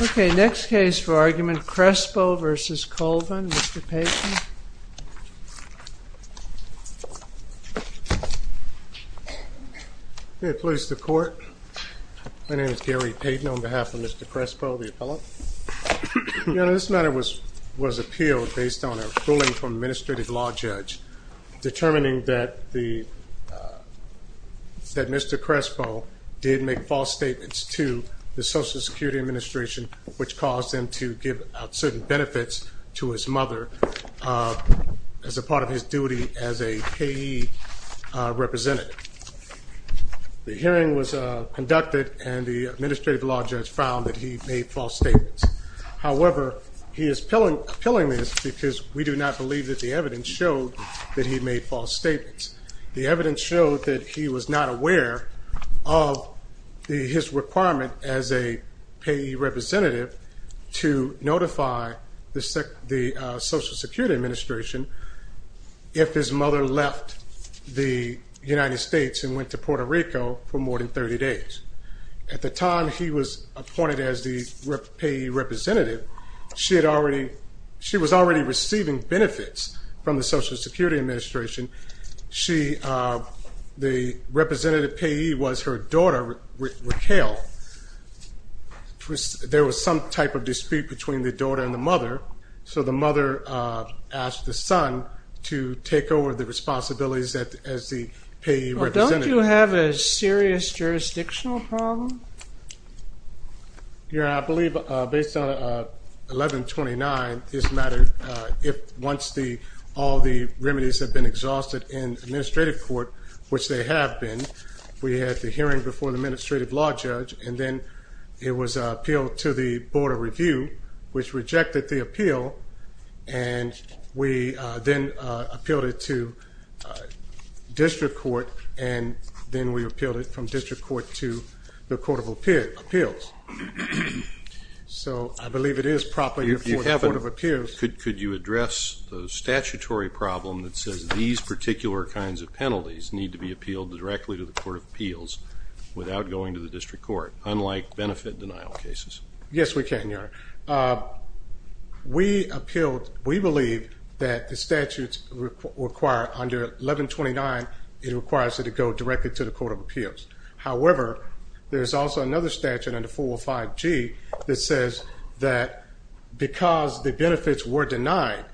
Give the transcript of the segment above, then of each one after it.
Ok, next case for argument, Crespo v. Colvin, Mr. Payton. May it please the court, my name is Gary Payton on behalf of Mr. Crespo, the appellant. This matter was appealed based on a ruling from an administrative law judge determining that Mr. Crespo did make false statements to the Social Security Administration which caused him to give out certain benefits to his mother as a part of his duty as a KE representative. The hearing was conducted and the administrative law judge found that he made false statements. However, he is appealing this because we do not believe that the evidence showed that he made false statements. The evidence showed that he was not aware of his requirement as a KE representative to notify the Social Security Administration if his mother left the United States and went to Puerto Rico for more than 30 days. At the time he was appointed as the KE representative, she was already receiving benefits from the Social Security Administration. The representative KE was her daughter, Raquel. There was some type of dispute between the daughter and the mother. So the mother asked the son to take over the responsibilities as the KE representative. Don't you have a serious jurisdictional problem? Your Honor, I believe based on 1129, this matter, once all the remedies have been exhausted in administrative court, which they have been, we had the hearing before the administrative law judge and then it was appealed to the Board of Review, which rejected the appeal. And we then appealed it to district court and then we appealed it from district court to the Court of Appeals. So I believe it is properly before the Court of Appeals. Could you address the statutory problem that says these particular kinds of penalties need to be appealed directly to the Court of Appeals without going to the district court, unlike benefit denial cases? Yes, we can, Your Honor. We appealed, we believe that the statutes require under 1129, it requires it to go directly to the Court of Appeals. However, there is also another statute under 405G that says that because the benefits were denied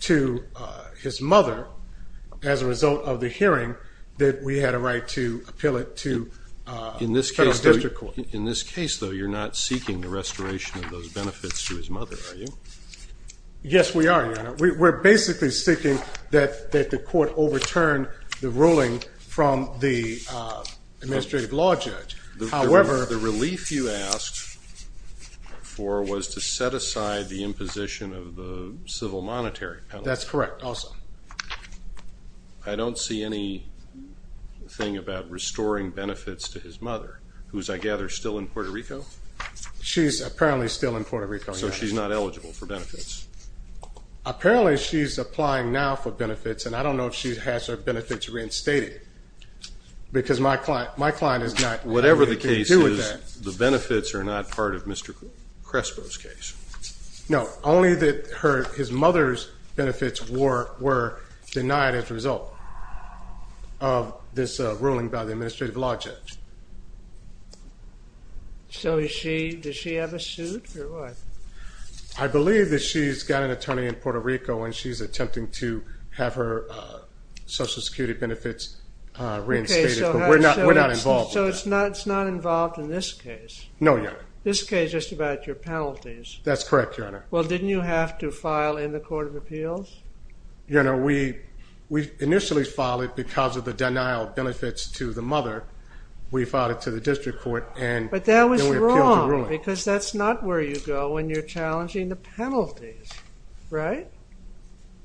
to his mother as a result of the hearing, that we had a right to appeal it to federal district court. In this case, though, you're not seeking the restoration of those benefits to his mother, are you? Yes, we are, Your Honor. We're basically seeking that the court overturn the ruling from the administrative law judge. However... The relief you asked for was to set aside the imposition of the civil monetary penalty. That's correct, also. I don't see anything about restoring benefits to his mother, who's, I gather, still in Puerto Rico? She's apparently still in Puerto Rico, Your Honor. So she's not eligible for benefits? Apparently, she's applying now for benefits, and I don't know if she has her benefits reinstated because my client is not... Whatever the case is, the benefits are not part of Mr. Crespo's case. No, only that his mother's benefits were denied as a result of this ruling by the administrative law judge. So does she have a suit, or what? I believe that she's got an attorney in Puerto Rico, and she's attempting to have her Social Security benefits reinstated, but we're not involved with that. So it's not involved in this case? No, Your Honor. This case is just about your penalties. That's correct, Your Honor. Well, didn't you have to file in the Court of Appeals? Your Honor, we initially filed it because of the denial of benefits to the mother. We filed it to the district court, and then we appealed the ruling. But that was wrong, because that's not where you go when you're challenging the penalties, right?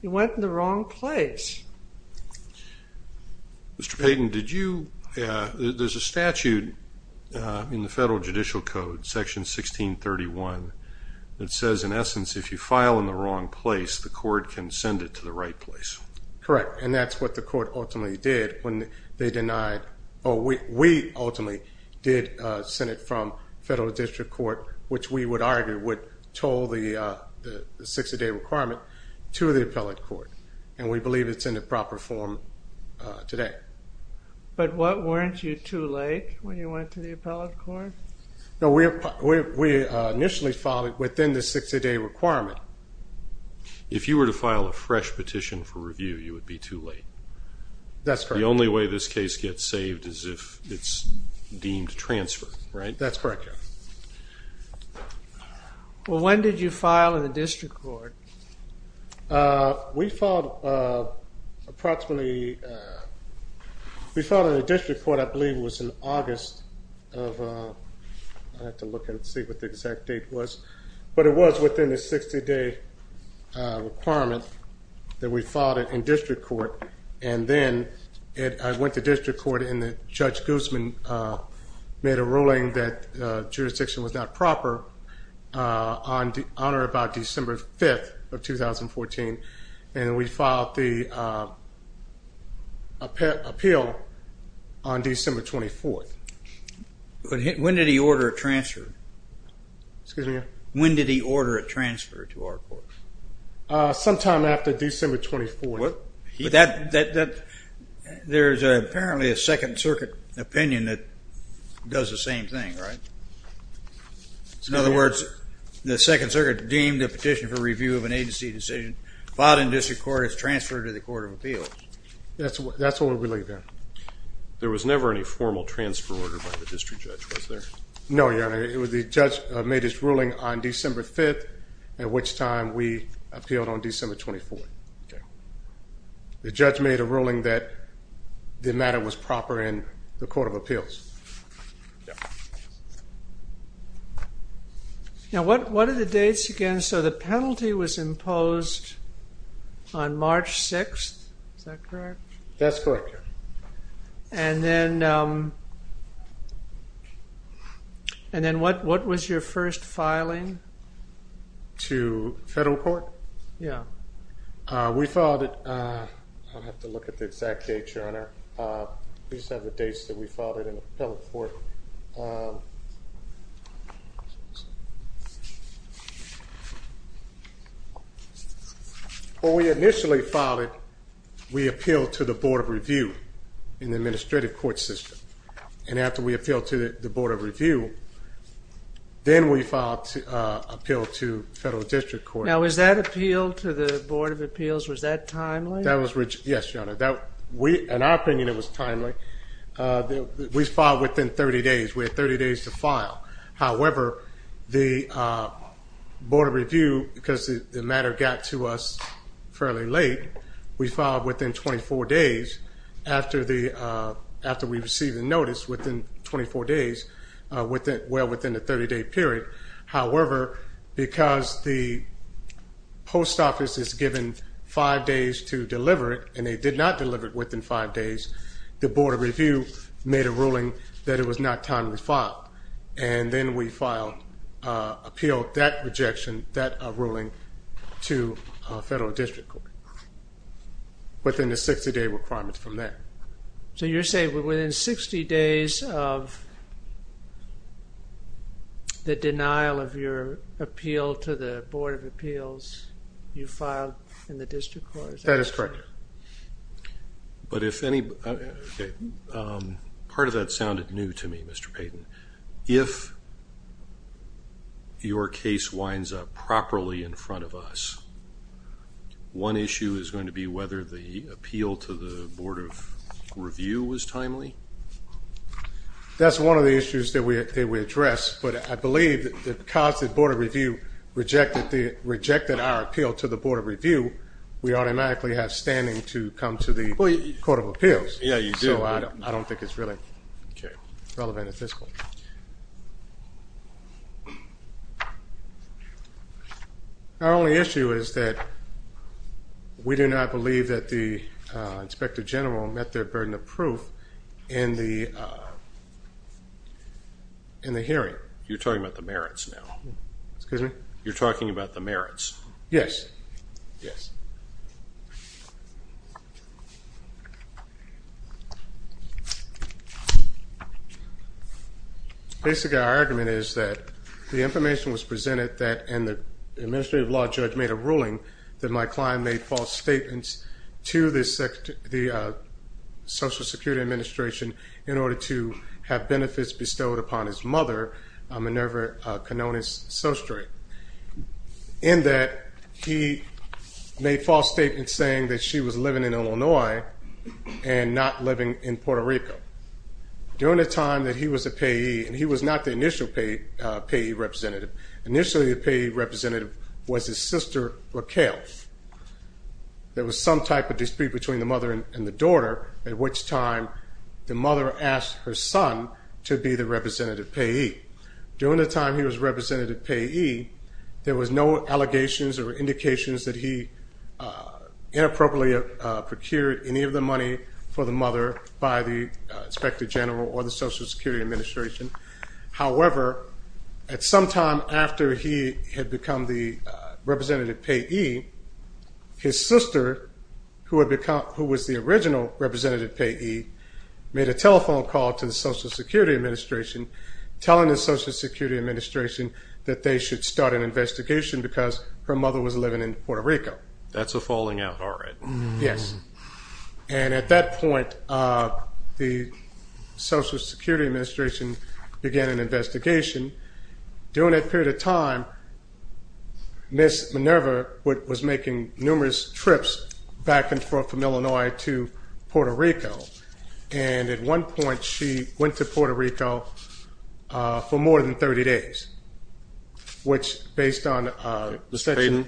You went in the wrong place. Mr. Payden, did you... There's a statute in the Federal Judicial Code, Section 1631, that says, in essence, if you file in the wrong place, the court can send it to the right place. Correct, and that's what the court ultimately did when they denied... We ultimately did send it from federal district court, which we would argue would toll the 60-day requirement, to the appellate court. And we believe it's in the proper form today. But weren't you too late when you went to the appellate court? No, we initially filed it within the 60-day requirement. If you were to file a fresh petition for review, you would be too late. That's correct. The only way this case gets saved is if it's deemed transfer, right? That's correct, Your Honor. Well, when did you file in the district court? We filed approximately... We filed in the district court, I believe it was in August of... I have to look and see what the exact date was. But it was within the 60-day requirement that we filed it in district court. And then I went to district court and Judge Guzman made a ruling that jurisdiction was not proper on or about December 5th of 2014. And we filed the appeal on December 24th. When did he order a transfer? Excuse me? When did he order a transfer to our court? Sometime after December 24th. There's apparently a Second Circuit opinion that does the same thing, right? In other words, the Second Circuit deemed a petition for review of an agency decision filed in district court is transferred to the court of appeals. That's what we believe, Your Honor. There was never any formal transfer order by the district judge, was there? No, Your Honor. The judge made his ruling on December 5th, at which time we appealed on December 24th. The judge made a ruling that the matter was proper in the court of appeals. Now, what are the dates again? So the penalty was imposed on March 6th, is that correct? That's correct, Your Honor. And then what was your first filing? To federal court? Yeah. We filed it. I'll have to look at the exact date, Your Honor. We just have the dates that we filed it in the federal court. When we initially filed it, we appealed to the Board of Review in the administrative court system. And after we appealed to the Board of Review, then we filed an appeal to federal district court. Now, was that appeal to the Board of Appeals, was that timely? Yes, Your Honor. In our opinion, it was timely. We filed within 30 days. We had 30 days to file. However, the Board of Review, because the matter got to us fairly late, we filed within 24 days after we received the notice, within 24 days, well within the 30-day period. However, because the post office is given five days to deliver it, and they did not deliver it within five days, the Board of Review made a ruling that it was not timely to file. And then we appealed that rejection, that ruling, to federal district court within the 60-day requirement from there. So you're saying within 60 days of the denial of your appeal to the Board of Appeals, you filed in the district court? That is correct. But if any, part of that sounded new to me, Mr. Payton. If your case winds up properly in front of us, one issue is going to be whether the appeal to the Board of Review was timely? That's one of the issues that we address, but I believe because the Board of Review rejected our appeal to the Board of Review, we automatically have standing to come to the Court of Appeals. Yeah, you do. So I don't think it's really relevant at this point. Our only issue is that we do not believe that the Inspector General met their burden of proof in the hearing. You're talking about the merits now? Excuse me? You're talking about the merits? Yes. Yes. Basically, our argument is that the information was presented and the administrative law judge made a ruling that my client made false statements to the Social Security Administration in order to have benefits bestowed upon his mother, Minerva Canones-Sostry. In that he made false statements saying that she was living in Illinois and not living in Puerto Rico. During the time that he was a payee, and he was not the initial payee representative. Initially, the payee representative was his sister, Raquel. There was some type of dispute between the mother and the daughter, at which time the mother asked her son to be the representative payee. During the time he was representative payee, there was no allegations or indications that he inappropriately procured any of the money for the mother by the Inspector General or the Social Security Administration. However, at some time after he had become the representative payee, his sister, who was the original representative payee, made a telephone call to the Social Security Administration telling the Social Security Administration that they should start an investigation because her mother was living in Puerto Rico. That's a falling out, all right. Yes. And at that point, the Social Security Administration began an investigation. During that period of time, Ms. Minerva was making numerous trips back and forth from Illinois to Puerto Rico. And at one point, she went to Puerto Rico for more than 30 days, which, based on the section…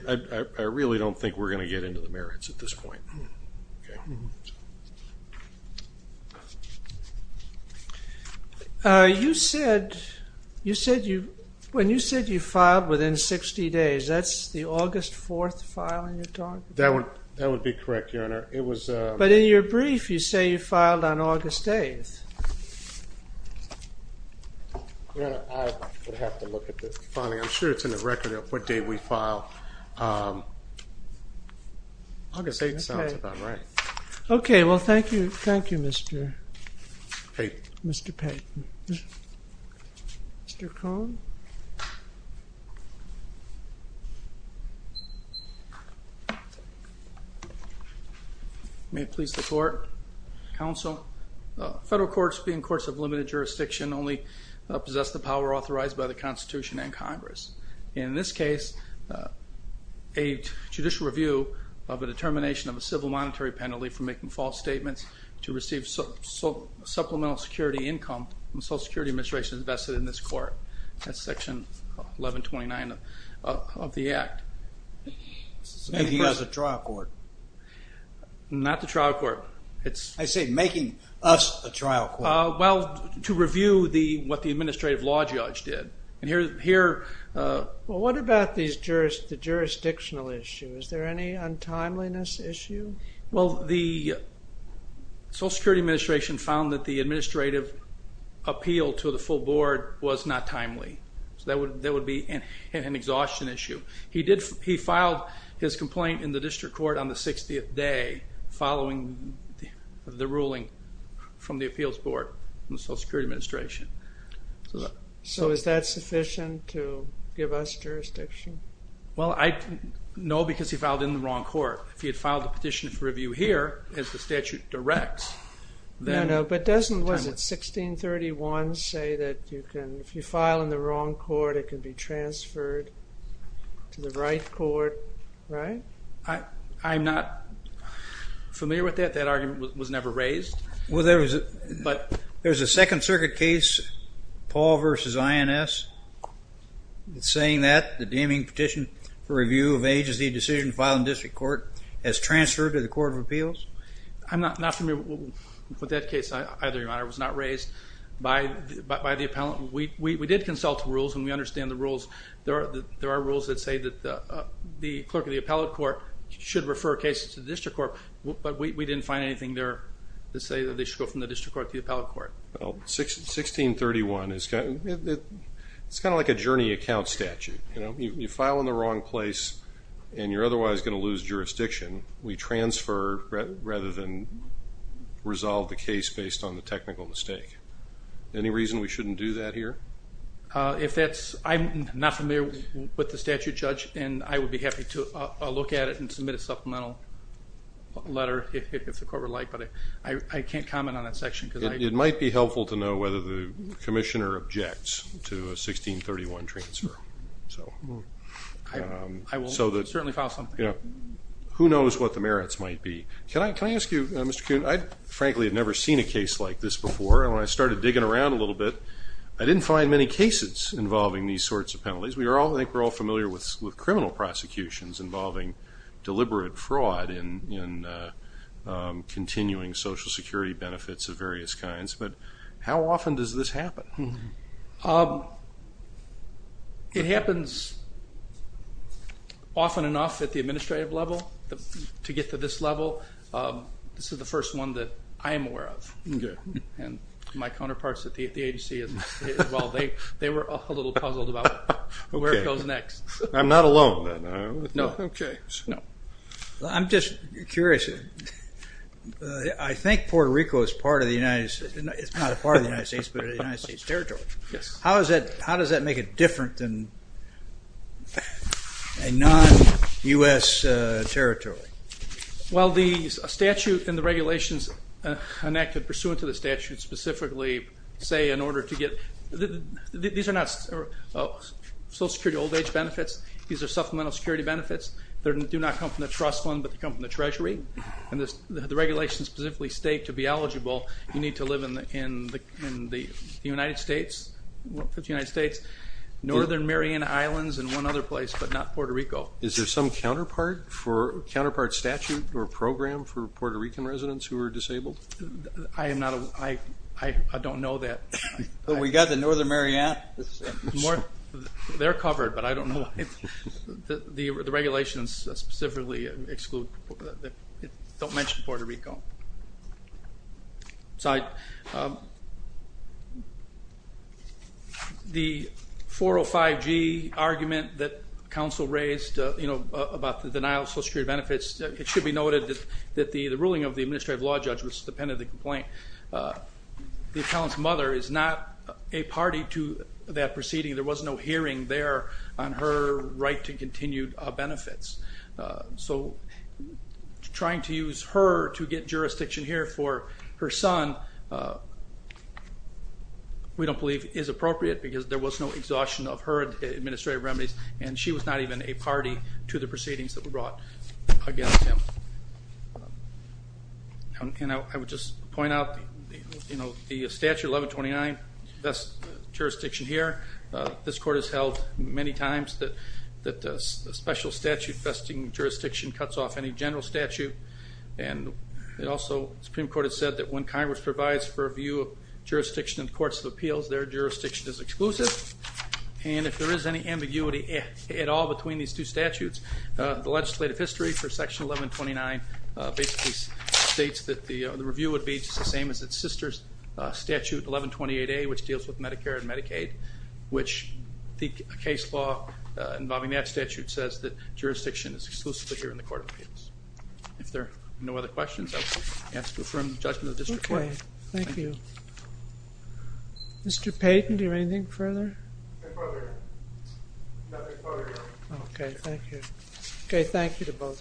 I really don't think we're going to get into the merits at this point. You said you filed within 60 days. That's the August 4th file in your document? That would be correct, Your Honor. But in your brief, you say you filed on August 8th. I would have to look at the filing. I'm sure it's in the record of what day we filed. August 8th sounds about right. Okay, well, thank you, Mr. Payton. Mr. Cohn? May it please the Court, Counsel, federal courts being courts of limited jurisdiction only possess the power authorized by the Constitution and Congress. In this case, a judicial review of a determination of a civil monetary penalty for making false statements to receive supplemental security income from the Social Security Administration is vested in this Court. That's Section 1129 of the Act. Making us a trial court. Not the trial court. I say making us a trial court. Well, to review what the administrative law judge did. Well, what about the jurisdictional issue? Is there any untimeliness issue? Well, the Social Security Administration found that the administrative appeal to the full board was not timely. So that would be an exhaustion issue. He filed his complaint in the district court on the 60th day, following the ruling from the appeals board in the Social Security Administration. So is that sufficient to give us jurisdiction? Well, no, because he filed in the wrong court. If he had filed a petition for review here, as the statute directs, then... No, no, but doesn't, was it 1631 say that you can, if you file in the wrong court, it can be transferred to the right court, right? I'm not familiar with that. That argument was never raised. Well, there was, but there's a Second Circuit case, Paul v. INS, saying that the deeming petition for review of agency decision filed in district court has transferred to the court of appeals. I'm not familiar with that case either, Your Honor. It was not raised by the appellant. We did consult the rules, and we understand the rules. There are rules that say that the clerk of the appellate court should refer cases to the district court, but we didn't find anything there that say that they should go from the district court to the appellate court. Well, 1631, it's kind of like a journey account statute. You file in the wrong place, and you're otherwise going to lose jurisdiction. We transfer rather than resolve the case based on the technical mistake. Any reason we shouldn't do that here? If that's, I'm not familiar with the statute, Judge, and I would be happy to look at it and submit a supplemental letter if the court would like, but I can't comment on that section. It might be helpful to know whether the commissioner objects to a 1631 transfer. I will certainly file something. Who knows what the merits might be? Can I ask you, Mr. Kuhn, I frankly have never seen a case like this before, and when I started digging around a little bit, I didn't find many cases involving these sorts of penalties. I think we're all familiar with criminal prosecutions involving deliberate fraud and continuing Social Security benefits of various kinds, but how often does this happen? It happens often enough at the administrative level to get to this level. This is the first one that I am aware of, and my counterparts at the agency as well. They were a little puzzled about where it goes next. I'm not alone then. No. I'm just curious. I think Puerto Rico is part of the United States, not a part of the United States, but a United States territory. How does that make it different than a non-U.S. territory? Well, the statute and the regulations enacted pursuant to the statute specifically say in order to get, these are not Social Security old-age benefits. These are supplemental security benefits. They do not come from the trust fund, but they come from the Treasury, and the regulations specifically state to be eligible, you need to live in the United States, the United States, Northern Mariana Islands, and one other place, but not Puerto Rico. Is there some counterpart statute or program for Puerto Rican residents who are disabled? I don't know that. We got the Northern Mariana? They're covered, but I don't know. The regulations specifically exclude, don't mention Puerto Rico. The 405G argument that counsel raised, you know, about the denial of Social Security benefits, it should be noted that the ruling of the administrative law judge was dependent on the complaint. The appellant's mother is not a party to that proceeding. There was no hearing there on her right to continued benefits. So trying to use her to get jurisdiction here for her son we don't believe is appropriate because there was no exhaustion of her administrative remedies, and she was not even a party to the proceedings that were brought against him. And I would just point out, you know, the Statute 1129, jurisdiction here, this court has held many times that a special statute vesting jurisdiction cuts off any general statute, and it also, the Supreme Court has said that when Congress provides for a view of jurisdiction in the Courts of Appeals, their jurisdiction is exclusive, and if there is any ambiguity at all between these two statutes, the legislative history for Section 1129 basically states that the review would be just the same as its sister statute, 1128A, which deals with Medicare and Medicaid, which the case law involving that statute says that jurisdiction is exclusively here in the Court of Appeals. If there are no other questions, I will ask to affirm the judgment of the district court. Okay, thank you. Mr. Payton, do you have anything further? Nothing further. Okay, thank you. Okay, thank you to both.